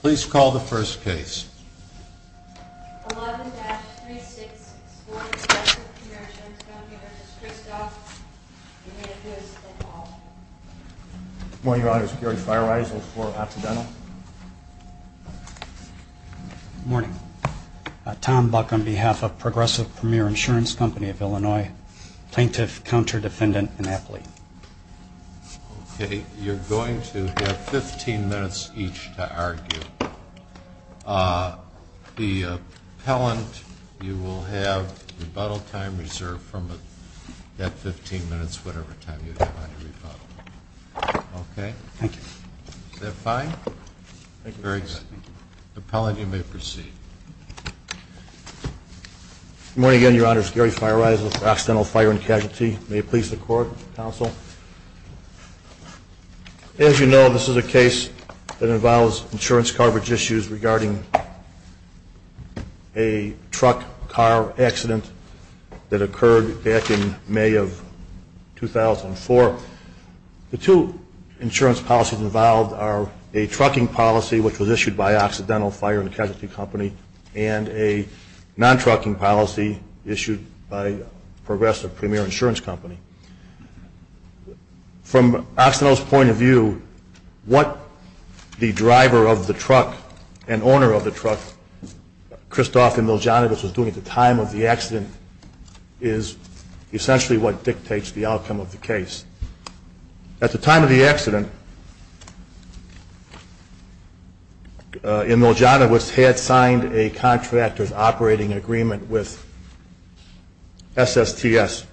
Please call the first case. 11-364 Progressive Premier Insurance Company, Registry Staff. Good morning, Your Honor. Security Fire Rises for Occidental. Good morning. Tom Buck on behalf of Progressive Premier Insurance Company of IL, Plaintiff, Counter Defendant, Annapolis. Okay, you're going to have 15 minutes each to argue. The appellant, you will have rebuttal time reserved from that 15 minutes, whatever time you have on your rebuttal. Okay? Thank you. Is that fine? Very good. The appellant, you may proceed. Good morning again, Your Honor. Security Fire Rises for Occidental Fire and As you know, this is a case that involves insurance coverage issues regarding a truck car accident that occurred back in May of 2004. The two insurance policies involved are a trucking policy, which was issued by Occidental Fire and Casualty Company, and a non-trucking policy issued by Progressive Premier Insurance Company. From Occidental's point of view, what the driver of the truck and owner of the truck, Christoph Imiljanovic, was doing at the time of the accident is essentially what dictates the outcome of the case. At the time of the accident, Imiljanovic had signed a contractor's operating agreement with SSTS,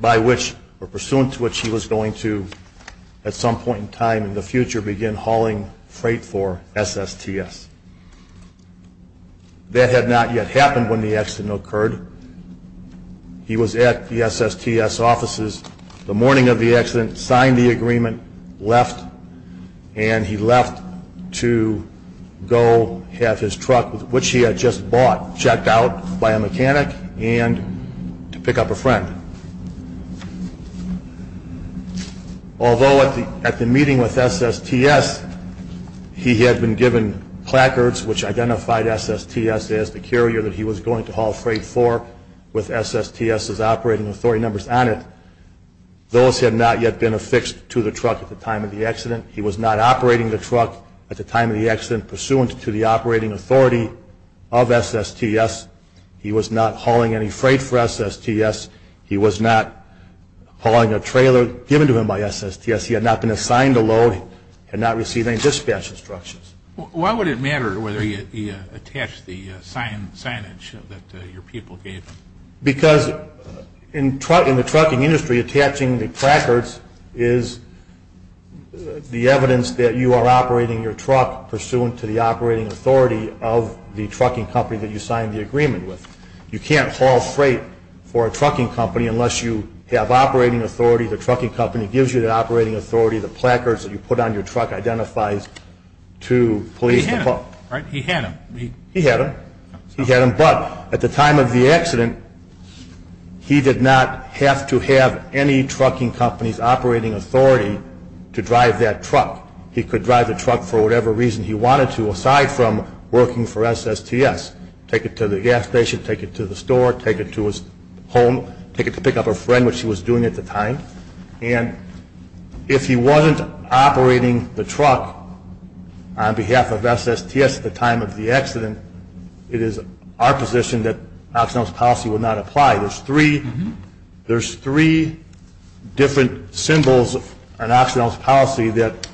by which, or pursuant to which, he was going to, at some point in time in the future, begin hauling freight for SSTS. That had not yet happened when the accident occurred. He was at the SSTS offices the morning of the accident, signed the agreement, left, and he left to go have his truck, which he had just bought, checked out by a mechanic, and to pick up a friend. Although at the meeting with SSTS, he had been given placards which identified SSTS as the carrier that he was going to haul freight for with SSTS's operating authority numbers on it, those had not yet been affixed to the truck at the time of the accident. He was not operating the truck at the time of the accident, pursuant to the operating authority of SSTS. He was not hauling any freight for SSTS. He was not hauling a trailer given to him by SSTS. He had not been assigned a load. He had not received any dispatch instructions. Why would it matter whether he attached the signage that your people gave him? Because in the trucking industry, attaching the placards is the evidence that you are operating your truck, pursuant to the operating authority of the trucking company that you signed the agreement with. You can't haul freight for a trucking company unless you have operating authority. The trucking company gives you that operating authority. The placards that you put on your truck identifies to police. He had them, right? He had them. He had them, but at the time of the accident, he did not have to have any trucking company's operating authority to drive that truck. He could drive the truck for whatever reason he wanted to, aside from working for SSTS. Take it to the gas station, take it to the store, take it to his home, take it to pick up a friend, which he was doing at the time. And if he wasn't operating the truck on behalf of SSTS at the time of the accident, it is our position that Oxnell's policy would not apply. There's three different symbols on Oxnell's policy that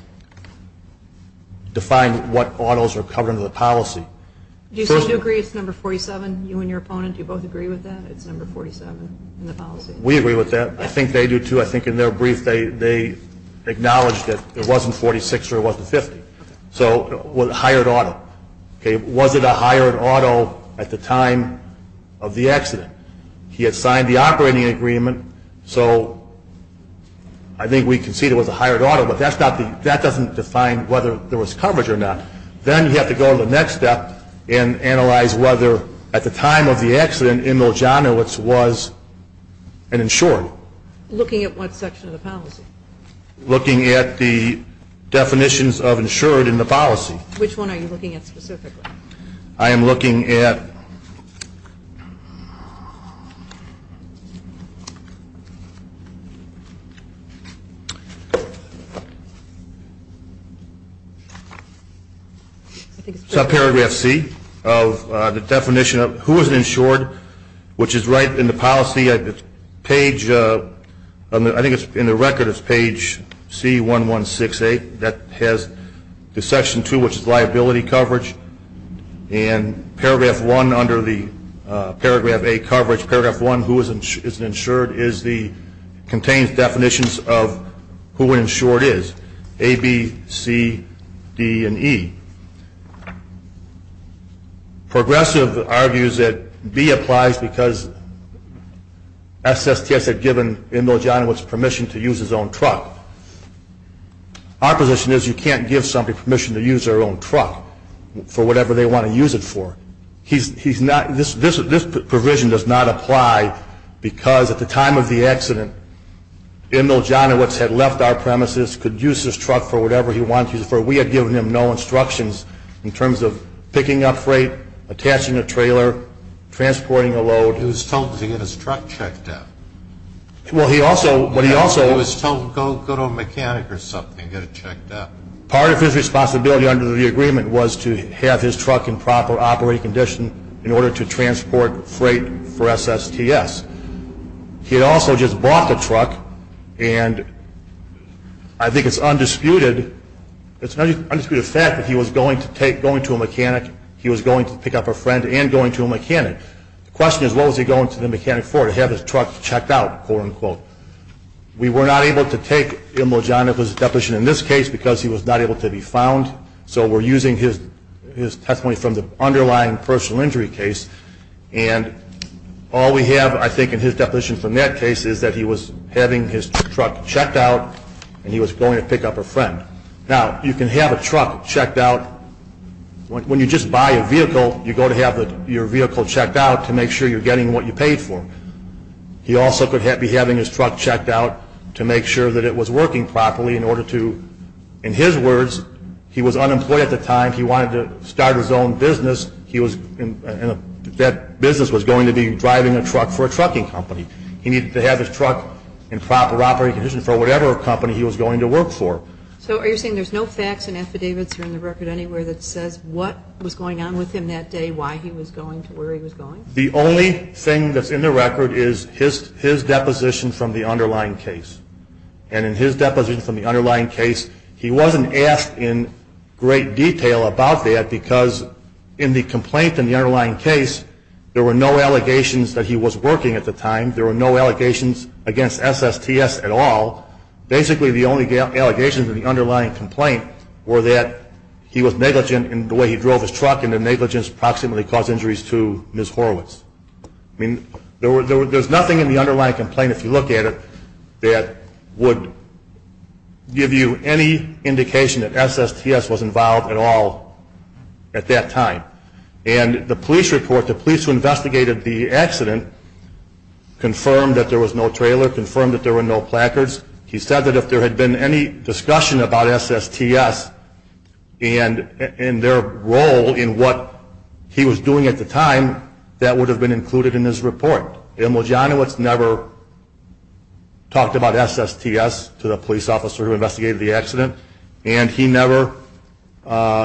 define what autos are covered under the policy. Do you still agree it's number 47? You and your opponent, do you both agree with that? It's number 47 in the policy. We agree with that. I think they do too. I think in their brief they acknowledged that it wasn't 46 or it wasn't 50. So, hired auto. Was it a hired auto at the time of the accident? He had signed the operating agreement, so I think we concede it was a hired auto, but that doesn't define whether there was coverage or not. Then you have to go to the next step and analyze whether at the time of the accident, Emil Johnowitz was an insured. Looking at what section of the policy? Looking at the definitions of insured in the policy. Which one are you looking at specifically? I am looking at paragraph Paragraph C of the definition of who is insured, which is right in the policy, I think in the record it's page C1168, that has the section 2, which is liability coverage, and paragraph 1 under the paragraph A coverage, paragraph 1, who is insured, contains definitions of who an insured is. A, B, C, D, and E. Progressive argues that B applies because SSTS had given Emil Johnowitz permission to use his own truck. Our position is you can't give somebody permission to use their own truck for whatever they want to use it for. This provision does not apply because at the time of the accident, Emil Johnowitz had left our premises, could use his truck for whatever he wanted to use it for. We had given him no instructions in terms of picking up freight, attaching a trailer, transporting a load. He was told to get his truck checked out. He was told to go to a mechanic or something and get it checked out. The only possibility under the agreement was to have his truck in proper operating condition in order to transport freight for SSTS. He had also just bought the truck and I think it's undisputed, it's an undisputed fact that he was going to a mechanic, he was going to pick up a friend, and going to a mechanic. The question is what was he going to the mechanic for, to have his truck checked out? We were not able to take Emil Johnowitz's deposition in this case because he was not able to be found, so we're using his testimony from the underlying personal injury case and all we have, I think, in his deposition from that case is that he was having his truck checked out and he was going to pick up a friend. Now, you can have a truck checked out, when you just buy a vehicle you go to have your vehicle checked out to make sure you're getting what you paid for. He also could be having his truck checked out to make sure that it was working properly in order to, in his words, he was unemployed at the time, he wanted to start his own business, that business was going to be driving a truck for a trucking company. He needed to have his truck in proper operating condition for whatever company he was going to work for. So are you saying there's no facts and affidavits in the record anywhere that says what was going on with him that day, why he was going to where he was going? The only thing that's in the record is his deposition from the underlying case. And in his deposition from the underlying case he wasn't asked in great detail about that because in the complaint in the underlying case, there were no allegations that he was working at the time, there were no allegations against SSTS at all. Basically the only allegations in the underlying complaint were that he was negligent in the way he drove his truck and the negligence approximately caused injuries to Ms. Horowitz. I mean, there's nothing in the underlying complaint if you look at it that would give you any indication that SSTS was involved at all at that time. And the police report, the police who investigated the accident confirmed that there was no trailer, confirmed that there were no placards. He said that if there had been any discussion about SSTS and their role in what he was doing at the time, that would have been included in his report. Emil Janowitz never talked about SSTS to the police officer who investigated the accident and he never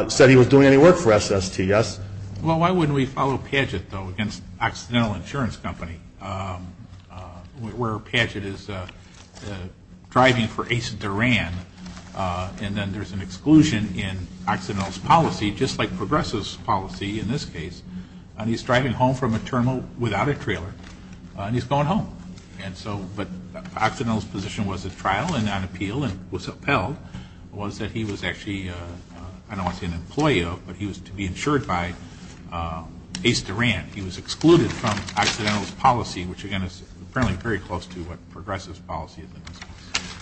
said he was doing any work for SSTS. Well, why wouldn't we follow Padgett against Occidental Insurance Company where Padgett is driving for Ace Duran and then there's an exclusion in Occidental's policy just like he's driving home from a terminal without a trailer and he's going home. And so, but Occidental's position was at trial and on appeal and was upheld was that he was actually, I don't want to say an employee of, but he was to be insured by Ace Duran. He was excluded from Occidental's policy, which again is apparently very close to what Progressive's policy is.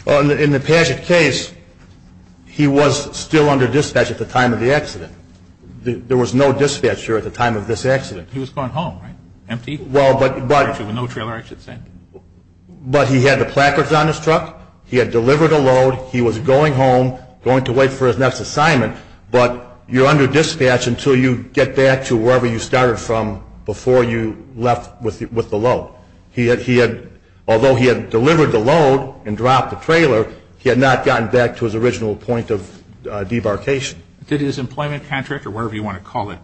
Well, in the Padgett case he was still under dispatch at the time of the accident. There was no dispatcher at the time of this accident. He was going home, right? Empty? Well, but... No trailer I should say. But he had the placards on his truck, he had delivered a load, he was going home going to wait for his next assignment, but you're under dispatch until you get back to wherever you started from before you left with the load. He had, although he had delivered the load and dropped the trailer, he had not gotten back to his original point of debarkation. Did his employment contract or whatever you want to call it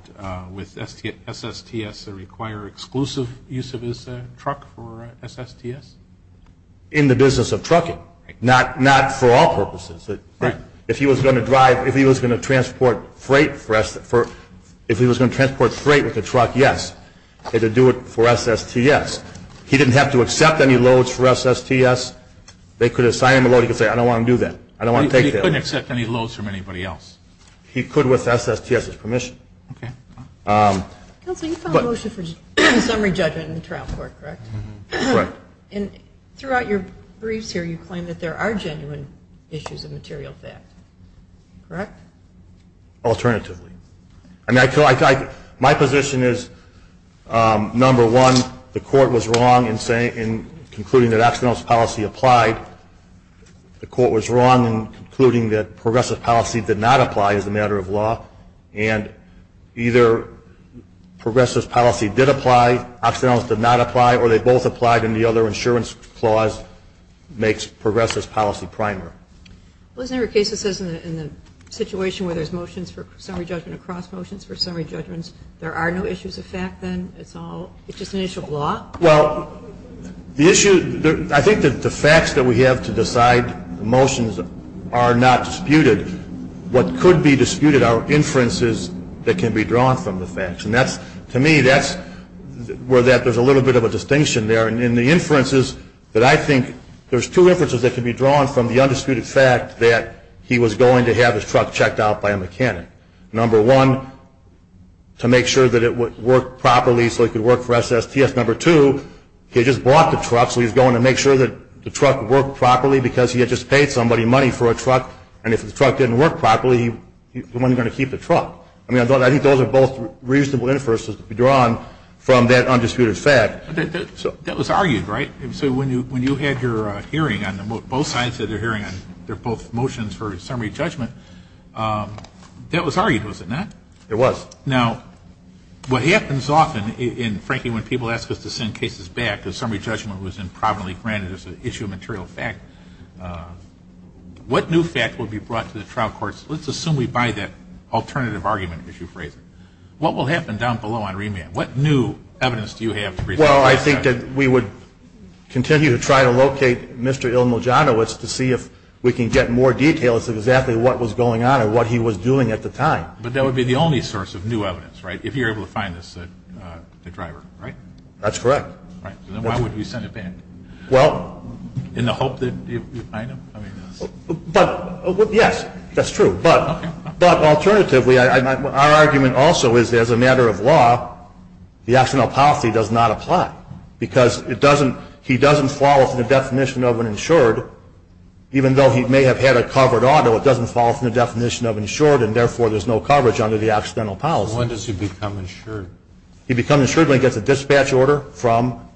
with SSTS require exclusive use of his truck for SSTS? In the business of trucking. Not for all purposes. If he was going to drive, if he was going to transport freight, if he was going to transport freight with a truck, yes. He had to do it for SSTS. He didn't have to accept any loads for SSTS. They could assign him a load, he could say I don't want to do that. He couldn't accept any loads from anybody else? He could with SSTS's permission. Okay. Counselor, you filed a motion for summary judgment in the trial court, correct? Correct. And throughout your briefs here, you claim that there are genuine issues of material fact. Correct? Alternatively. My position is, number one, the court was wrong in concluding that Axnel's policy applied. The court was wrong in concluding that progressive policy did not apply as a matter of law. And either progressive policy did apply, Axnel's did not apply, or they both applied and the other insurance clause makes progressive policy primer. Well, isn't there a case that says in the situation where there's motions for summary judgment across motions for summary judgments, there are no issues of fact then? It's just an issue of law? Well, the issue I think that the facts that we have to decide the motions are not disputed. What could be disputed are inferences that can be drawn from the facts. And that's, to me, that's where there's a little bit of a distinction there. And in the inferences that I think there's two inferences that can be drawn from the undisputed fact that he was going to have his truck checked out by a mechanic. Number one, to make sure that it worked properly so it could work for SSTS. Number two, he just bought the truck so he was going to make sure that the truck worked properly because he had just paid somebody money for a truck. And if the truck didn't work properly, he wasn't going to keep the truck. I mean, I think those are both reasonable inferences to be drawn from that undisputed fact. That was argued, right? So when you had your hearing on both sides of the hearing on their both motions for summary judgment, that was argued, was it not? It was. Now, what happens often in, frankly, when people ask us to send cases back, if summary judgment was improperly granted as an issue of material fact, what new fact would be brought to the trial courts? Let's assume we buy that alternative argument issue phrasing. What will happen down below on remand? What new evidence do you have? Well, I think that we would continue to try to locate Mr. Ilmuljanowicz to see if we can get more details of exactly what was going on and what he was doing at the time. But that would be the only source of new evidence, right, if you're able to find the driver, right? That's correct. Then why would you send it back? Well... In the hope that you find him? But, yes, that's true. But, alternatively, our argument also is that as a matter of law, the accidental policy does not apply. Because it doesn't he doesn't fall within the definition of an insured, even though he may have had a covered auto, it doesn't fall within the definition of insured, and therefore there's no he'd become insured. He'd become insured when he gets a dispatch order from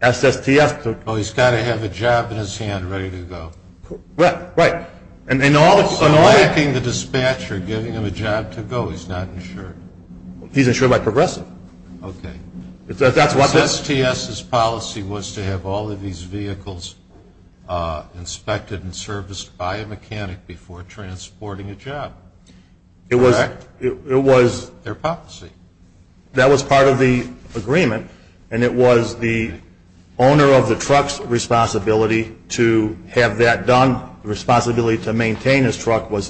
SSTS. Oh, he's got to have a job in his hand ready to go. Right. And in all... He's not liking the dispatcher giving him a job to go. He's not insured. He's insured by Progressive. Okay. SSTS's policy was to have all of these vehicles inspected and serviced by a mechanic before transporting a job. Correct. It was... Their policy. That was part of the agreement, and it was the owner of the truck's responsibility to have that done. The responsibility to maintain his truck was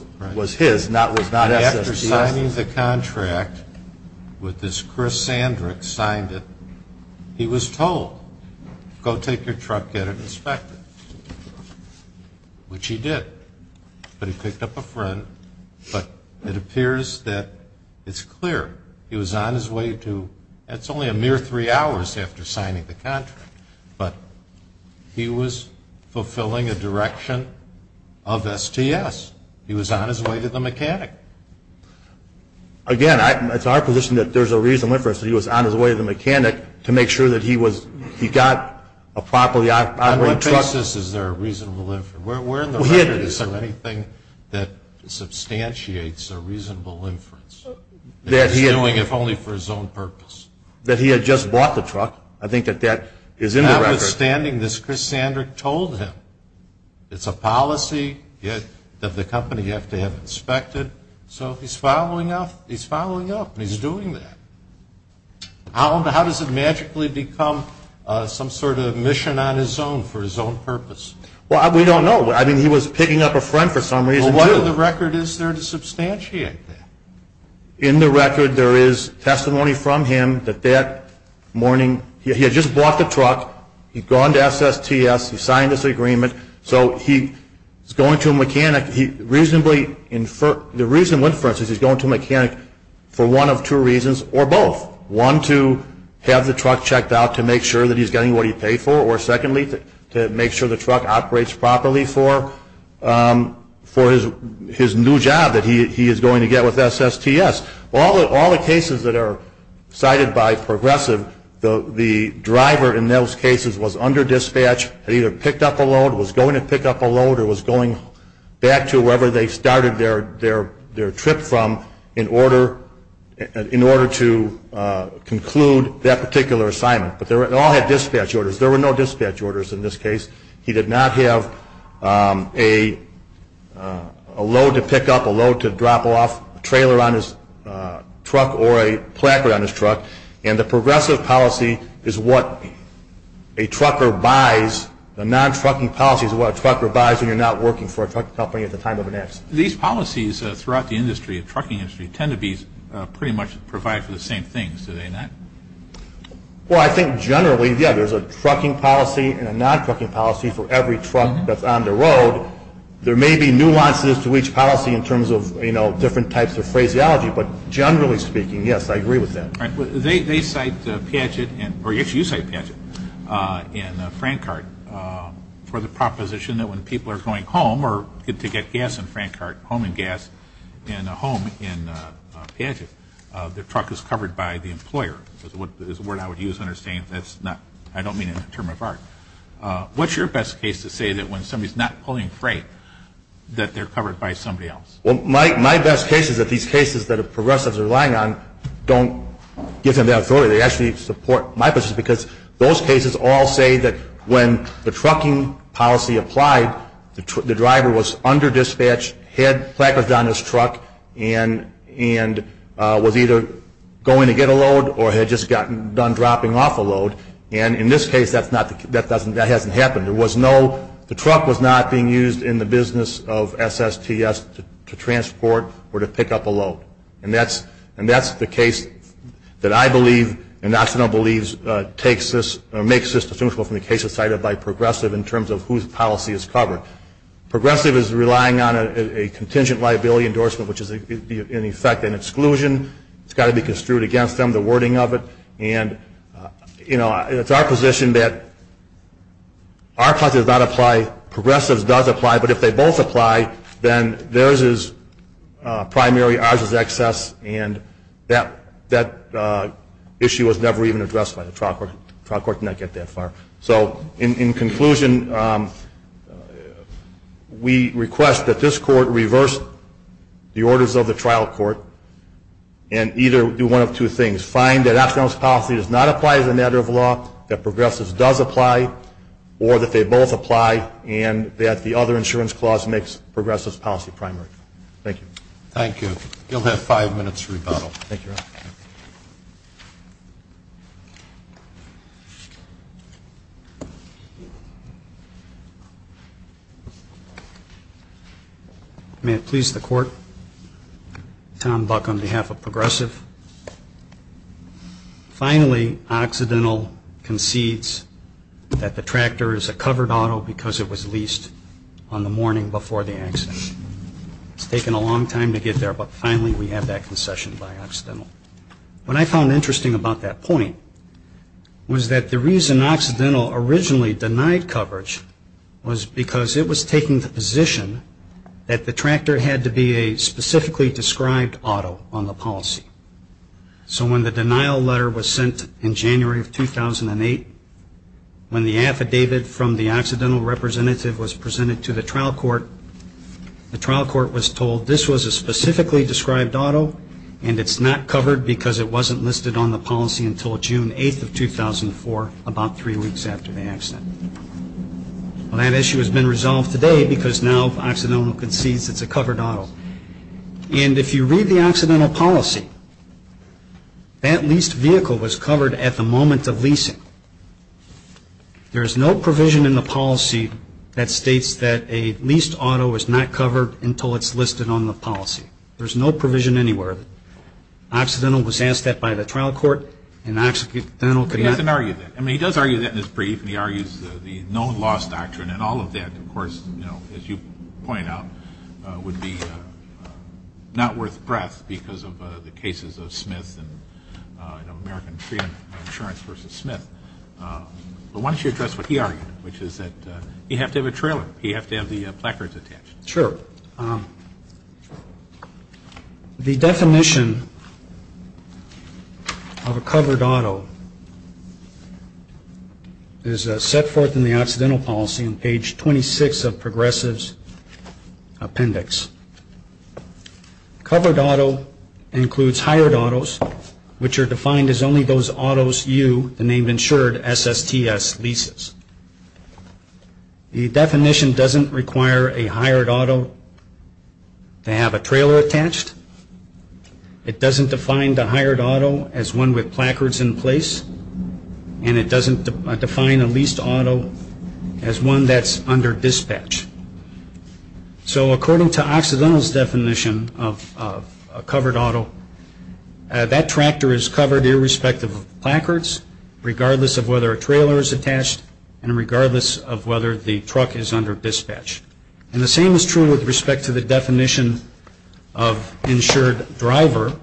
his, not SSTS. After signing the contract with this Chris Sandrick signed it, he was told, go take your truck, get it inspected. Which he did. But he picked up a friend, but it appears that it's clear he was on his way to... That's only a mere three hours after signing the contract, but he was fulfilling a direction of STS. He was on his way to the mechanic. Again, it's our position that there's a reasonable inference that he was on his way to the mechanic to make sure that he got a properly operated... On what basis is there a reasonable inference? Where in the record is there anything that substantiates a reasonable inference that he's doing if only for his own purpose? That he had just bought the truck. I think that that is in the record. Notwithstanding this, Chris Sandrick told him. It's a policy of the company you have to have inspected, so he's following up, and he's doing that. How does it magically become some sort of mission on his own, for his own purpose? Well, we don't know. I mean, he was picking up a friend for some reason, too. Well, what in the record is there to substantiate that? In the record, there is testimony from him that that morning, he had just bought the truck, he'd gone to SSTS, he signed this agreement, so he's going to a mechanic. The reasonable inference is he's going to a mechanic for one of two reasons, or both. One, to have the truck checked out to make sure that he's getting what he paid for, or secondly, to make sure the truck operates properly for his new job that he is going to get with SSTS. All the cases that are cited by Progressive, the driver in those cases was under dispatch, had either picked up a load, was going to pick up a load, or was going back to wherever they started their trip from in order to conclude that particular assignment. But they all had dispatch orders. There were no dispatch orders in this case. He did not have a load to pick up, a load to drop off, a trailer on his truck, or a placard on his truck, and the Progressive policy is what a trucker buys, the non-trucking policy is what a trucker buys when you're not working for a truck company at the time of an accident. These policies throughout the industry, the trucking industry, tend to be pretty much provide for the same things, do they not? Well, I think generally, yeah, there's a trucking policy and a non-trucking policy for every truck that's on the road. There may be nuances to each policy in terms of, you know, different types of phraseology, but generally speaking, yes, I agree with that. They cite Piaget, or actually you cite Piaget, in Frankhart for the proposition that when people are going home, or to get gas in Frankhart, home and gas in a home in Piaget, the truck is covered by the employer, is a word I would use to understand that's not, I don't mean in a term of art. What's your best case to say that when somebody's not pulling freight that they're covered by somebody else? Well, my best case is that these cases that the Progressives are relying on don't give them the authority, they actually support my position, because those cases all say that when the trucking policy applied, the driver was under-dispatched, had placards on his truck, and was either going to get a load, or had just gotten done dropping off a load, and in this case, that hasn't happened. There was no, the truck was not being used in the business of SSTS to transport or to pick up a load. And that's the case that I believe, and Oxnard believes, makes this distinguishable from the cases cited by Progressive in terms of whose policy is covered. Progressive is relying on a contingent liability endorsement, which is, in effect, an exclusion. It's got to be construed against them, the wording of it, and it's our position that our policy does not apply, Progressive's does apply, but if they both apply, then theirs is primary, ours is excess, and that issue was never even addressed by the trial court. The trial court did not get that far. So, in fact, we request that this court reverse the orders of the trial court, and either do one of two things, find that Oxnard's policy does not apply as a matter of law, that Progressive's does apply, or that they both apply, and that the other insurance clause makes Progressive's policy primary. Thank you. Thank you. You'll have five minutes to rebuttal. May it please the court, Tom Buck on behalf of Progressive. Finally, Occidental concedes that the tractor is a covered auto because it was leased on the morning before the accident. It's taken a long time to get there, but finally we have that concession by Occidental. What I found interesting about that point was that the reason Occidental originally denied coverage was because it was taking the position that the tractor had to be a specifically described auto on the policy. So when the denial letter was sent in January of 2008, when the affidavit from the Occidental representative was presented to the trial court, the trial court was told this was a specifically described auto, and it's not covered because it wasn't listed on the policy until June 8th of 2004, about three weeks after the accident. Well, that issue has been resolved today because now Occidental concedes it's a covered auto. And if you read the Occidental policy, that leased vehicle was covered at the moment of leasing. There is no provision in the policy that states that a leased auto is not covered until it's listed on the policy. There's no provision anywhere. Occidental was asked that by the trial court, and Occidental denied it. But he doesn't argue that. I mean, he does argue that in his brief, and he argues the no-loss doctrine and all of that, of course, as you point out, would be not worth breath because of the cases of Smith and American Freedom Insurance v. Smith. But why don't you address what he argued, which is that you have to have a trailer. You have to have the placards attached. Sure. The definition of a covered auto is set forth in the Occidental policy on page 26 of Progressive's appendix. Covered auto includes hired autos, which are defined as only those autos you, the name insured, SSTS leases. The definition doesn't require a hired auto to have a trailer attached. It doesn't define the hired auto as one with placards in place, and it doesn't define a leased auto as one that's under dispatch. So according to Occidental's definition of covered auto, that tractor is covered irrespective of placards, regardless of whether a trailer is attached, and regardless of whether the truck is under dispatch. And the same is true with respect to the definition of insured driver,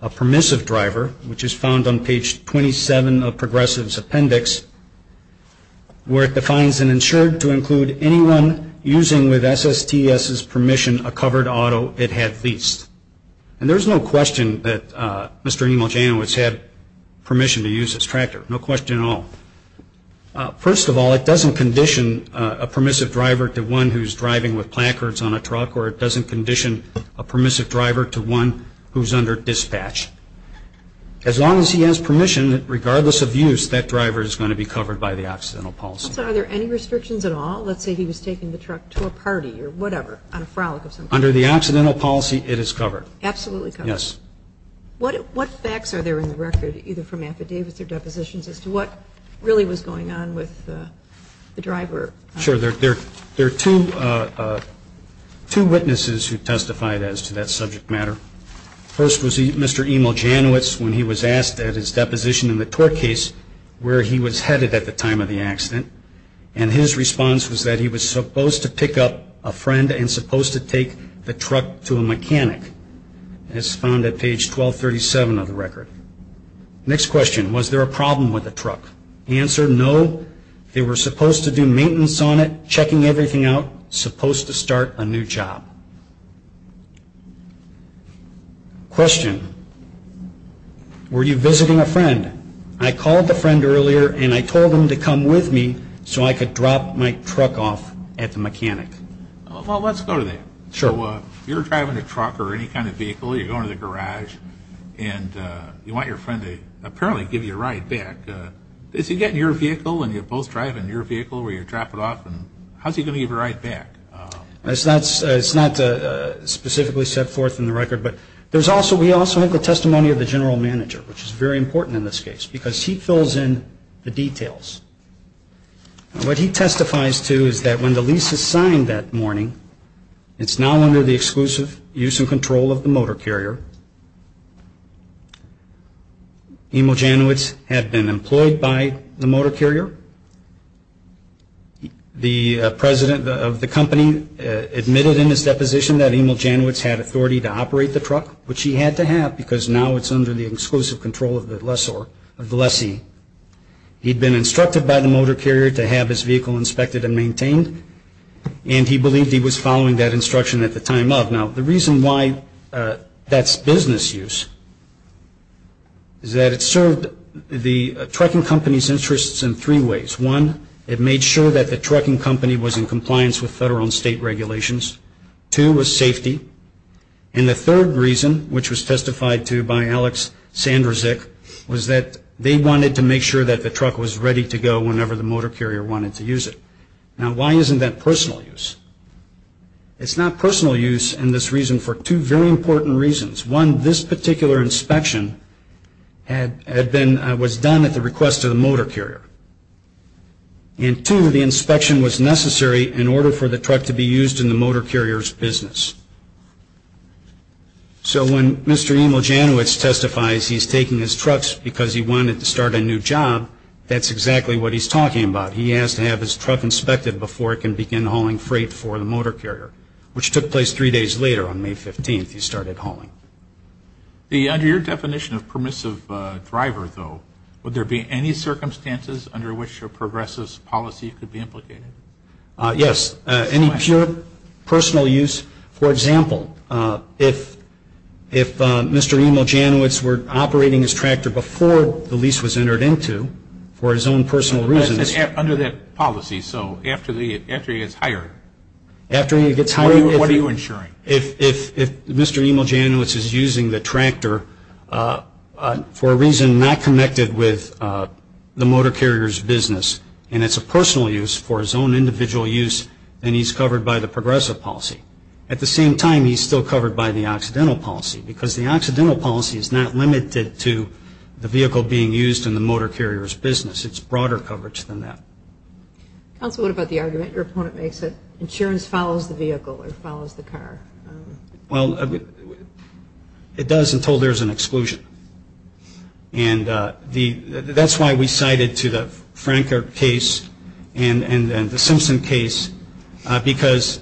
a permissive driver, which is found on page 27 of Progressive's appendix, where it defines an insured to include anyone using with SSTS's permission a covered auto it had leased. And there's no question that Mr. Emil Janowitz had permission to use his tractor. No question at all. First of all, it doesn't condition a permissive driver to one who's driving with placards on a truck, or it doesn't condition a permissive driver to one who's under dispatch. As long as he has permission, regardless of use, that driver is going to be covered by the Occidental policy. So are there any restrictions at all? Let's say he was taking the truck to a party or whatever on a frolic of some kind. Under the Occidental policy, it is covered. Absolutely covered. Yes. What facts are there in the record, either from affidavits or Sure. There are two witnesses who testified as to that subject matter. First was Mr. Emil Janowitz when he was asked at his deposition in the tort case where he was headed at the time of the accident. And his response was that he was supposed to pick up a friend and supposed to take the truck to a mechanic. It's found at page 1237 of the record. Next question, was there a problem with the truck? Answer, no. They were supposed to do maintenance on it, checking everything out, supposed to start a new job. Question, were you visiting a friend? I called a friend earlier and I told him to come with me so I could drop my truck off at the mechanic. Well, let's go to that. Sure. You're driving a truck or any kind of vehicle. You're going to the garage and you want your friend to apparently give you a ride back. Does he get in your vehicle and you're both driving your vehicle where you drop it off? How is he going to give you a ride back? It's not specifically set forth in the record, but we also have the testimony of the general manager, which is very important in this case, because he fills in the details. What he testifies to is that when the lease is signed that morning, it's now under the exclusive use and control of the motor carrier. Emil Janowitz had been employed by the motor carrier. The president of the company admitted in his deposition that Emil Janowitz had authority to operate the truck, which he had to have, because now it's under the exclusive control of the lessee. He'd been instructed by the motor carrier to have his vehicle inspected and maintained, and he believed he was following that instruction at the time of. Now, the reason why that's so important is because that's business use, is that it served the trucking company's interests in three ways. One, it made sure that the trucking company was in compliance with federal and state regulations. Two was safety. And the third reason, which was testified to by Alex Sanderzick, was that they wanted to make sure that the truck was ready to go whenever the motor carrier wanted to use it. Now, why isn't that personal use? It's not personal use in this reason for two very important reasons. One, this particular inspection was done at the request of the motor carrier. And two, the inspection was necessary in order for the truck to be used in the motor carrier's business. So when Mr. Emil Janowitz testifies he's taking his truck because he wanted to start a new job, that's exactly what he's talking about. He has to have his truck inspected before it can begin hauling freight for the motor carrier, which took place three days later on May 15th, he started hauling. Under your definition of permissive driver, though, would there be any circumstances under which a progressive's policy could be implicated? Yes, any pure personal use. For example, if Mr. Emil Janowitz were operating his tractor before the lease was entered into for his own personal reasons. Under that policy, so after he gets hired, what are you insuring? If Mr. Emil Janowitz is using the tractor for a reason not connected with the motor carrier's business and it's a personal use for his own individual use, then he's covered by the progressive policy. At the same time, he's still covered by the accidental policy because the accidental policy is not limited to the vehicle being used in the motor carrier's business. It's broader coverage than that. Counsel, what about the argument your opponent makes that insurance follows the vehicle or follows the car? It does until there's an exclusion. That's why we cited to the Franker case and the Simpson case because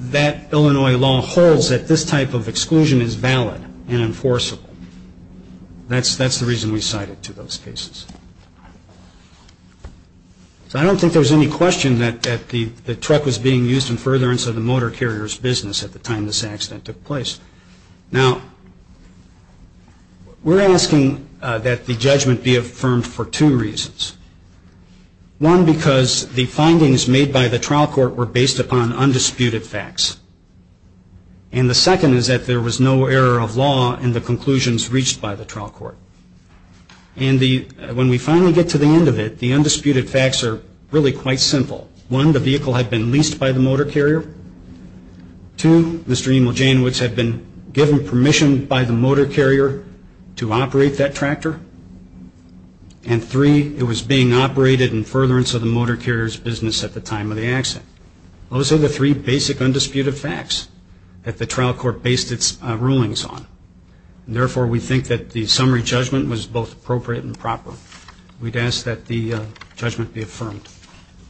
that Illinois law holds that this type of exclusion is valid and enforceable. That's the reason we cited to those cases. I don't think there's any question that the truck was being used in furtherance of the motor carrier's business at the time this accident took place. Now, we're asking that the judgment be affirmed for two reasons. One, because the findings made by the trial court were based upon undisputed facts. And the second is that there was no error of law in the conclusions reached by the trial court. And when we finally get to the end of it, the undisputed facts are really quite simple. One, the vehicle had been leased by the motor carrier. Two, Mr. Emil Janewicz had been given permission by the motor carrier to operate that tractor. And three, it was being operated in furtherance of the motor carrier's business at the time of the accident. Those are the three basic undisputed facts that the trial court based its rulings on. Therefore, we think that the summary judgment was both appropriate and proper. We'd ask that the judgment be affirmed.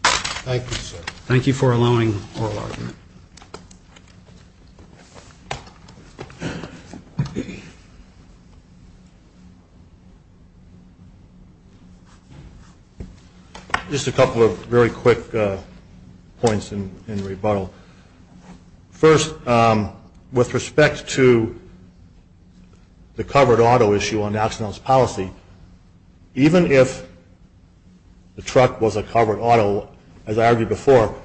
Thank you for allowing oral argument. Just a couple of very quick points in rebuttal. First, with respect to the covered auto issue on Oxnell's policy, even if the truck was a covered auto, as I argued before,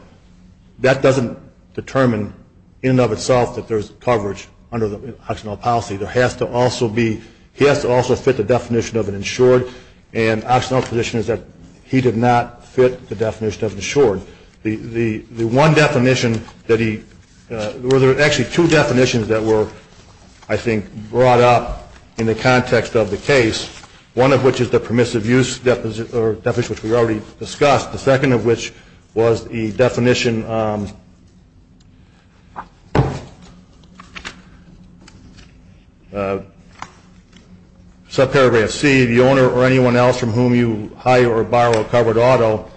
that doesn't determine in and of itself that there's coverage under the Oxnell policy. There has to also be, he has to also fit the definition of an insured and Oxnell's position is that he did not fit the definition of insured. The one definition that he, there were actually two definitions that were, I think, brought up in the context of the case. One of which is the permissive use definition, which we already discussed. The second of which was the definition subparagraph C, the owner or anyone else from whom you hire or borrow a covered auto,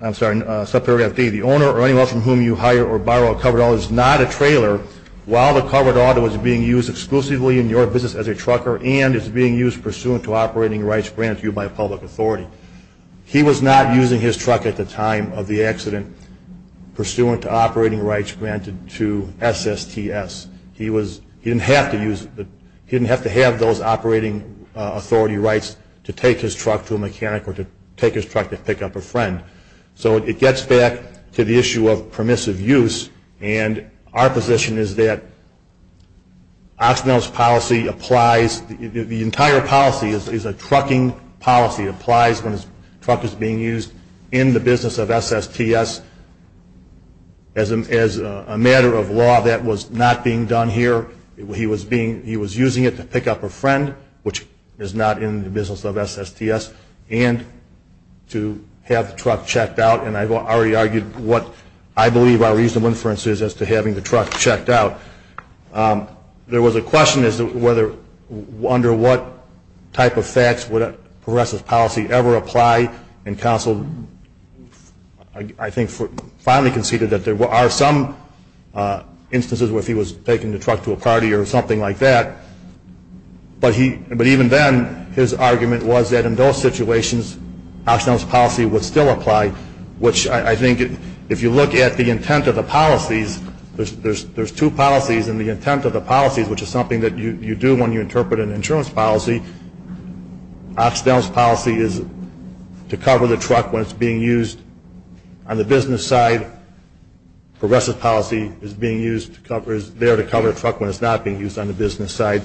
I'm sorry, subparagraph D, the owner or anyone else from whom you hire or borrow a covered auto is not a trailer while the covered auto is being used exclusively in your business as a trucker and is being used pursuant to operating rights granted to you by a public authority. He was not using his truck at the time of the accident pursuant to operating rights granted to SSTS. He was, he didn't have to use, he didn't have to have those operating authority rights to take his truck to a mechanic or to take his truck to pick up a friend. So it gets back to the issue of permissive use and our position is that Oxnell's policy applies, the entire policy is a trucking policy. It applies when a truck is being used in the business of SSTS as a matter of law that was not being done here. He was using it to pick up a friend, which is not in the business of SSTS and to have the truck checked out and I've already argued what I believe our reasonable inference is as to having the truck checked out. There was a question as to whether under what type of facts would a progressive policy ever apply and counsel I think finally conceded that there are some instances where if he was taking the but even then his argument was that in those situations Oxnell's policy would still apply, which I think if you look at the intent of the policies, there's two policies and the intent of the policies, which is something that you do when you interpret an insurance policy. Oxnell's policy is to cover the truck when it's being used on the business side. Progressive policy is being used to cover, is there to cover the truck when it's not being used on the business side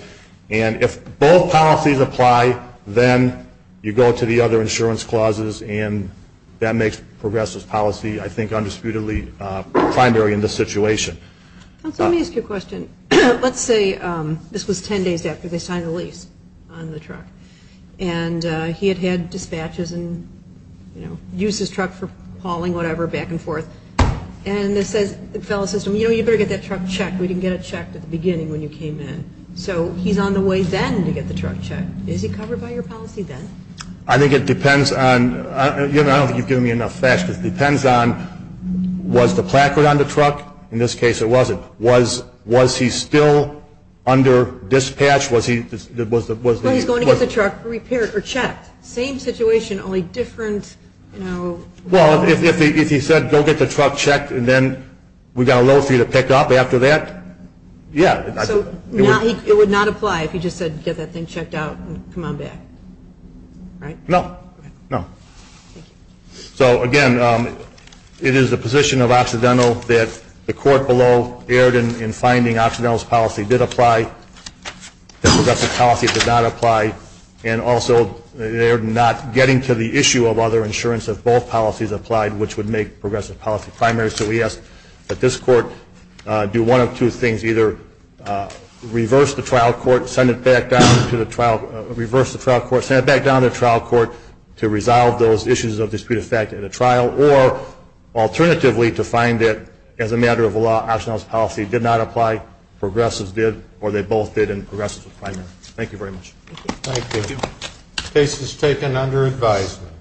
and if both policies apply, then you go to the other insurance clauses and that makes progressive policy I think undisputedly primary in this situation. Let me ask you a question. Let's say this was ten days after they signed the lease on the truck and he had had dispatches and used his truck for hauling whatever back and forth and the fellow says to him I don't think you've given me enough facts because it depends on was the placard on the truck? In this case it wasn't. Was he still under dispatch? No, he's going to get the truck repaired or checked. Same situation, only different... Well, if he said go get the truck checked and then we've got a load for you to pick up after that, yeah. So it would not apply if he just said get that thing checked out and come on back, right? No, no. So again, it is the position of Occidental that the court below erred in finding Occidental's policy did apply that progressive policy did not apply and also they're not getting to the issue of other insurance if both policies applied which would make progressive policy primary so we ask that this court do one of two things, either reverse the trial court send it back down to the trial, reverse the trial court, send it back down to the trial court to resolve those issues of dispute of fact at a trial or alternatively to find that as a matter of law Occidental's policy did not apply progressive's did or they both did and progressive's was primary. Thank you very much. Thank you. Case is taken under advisement.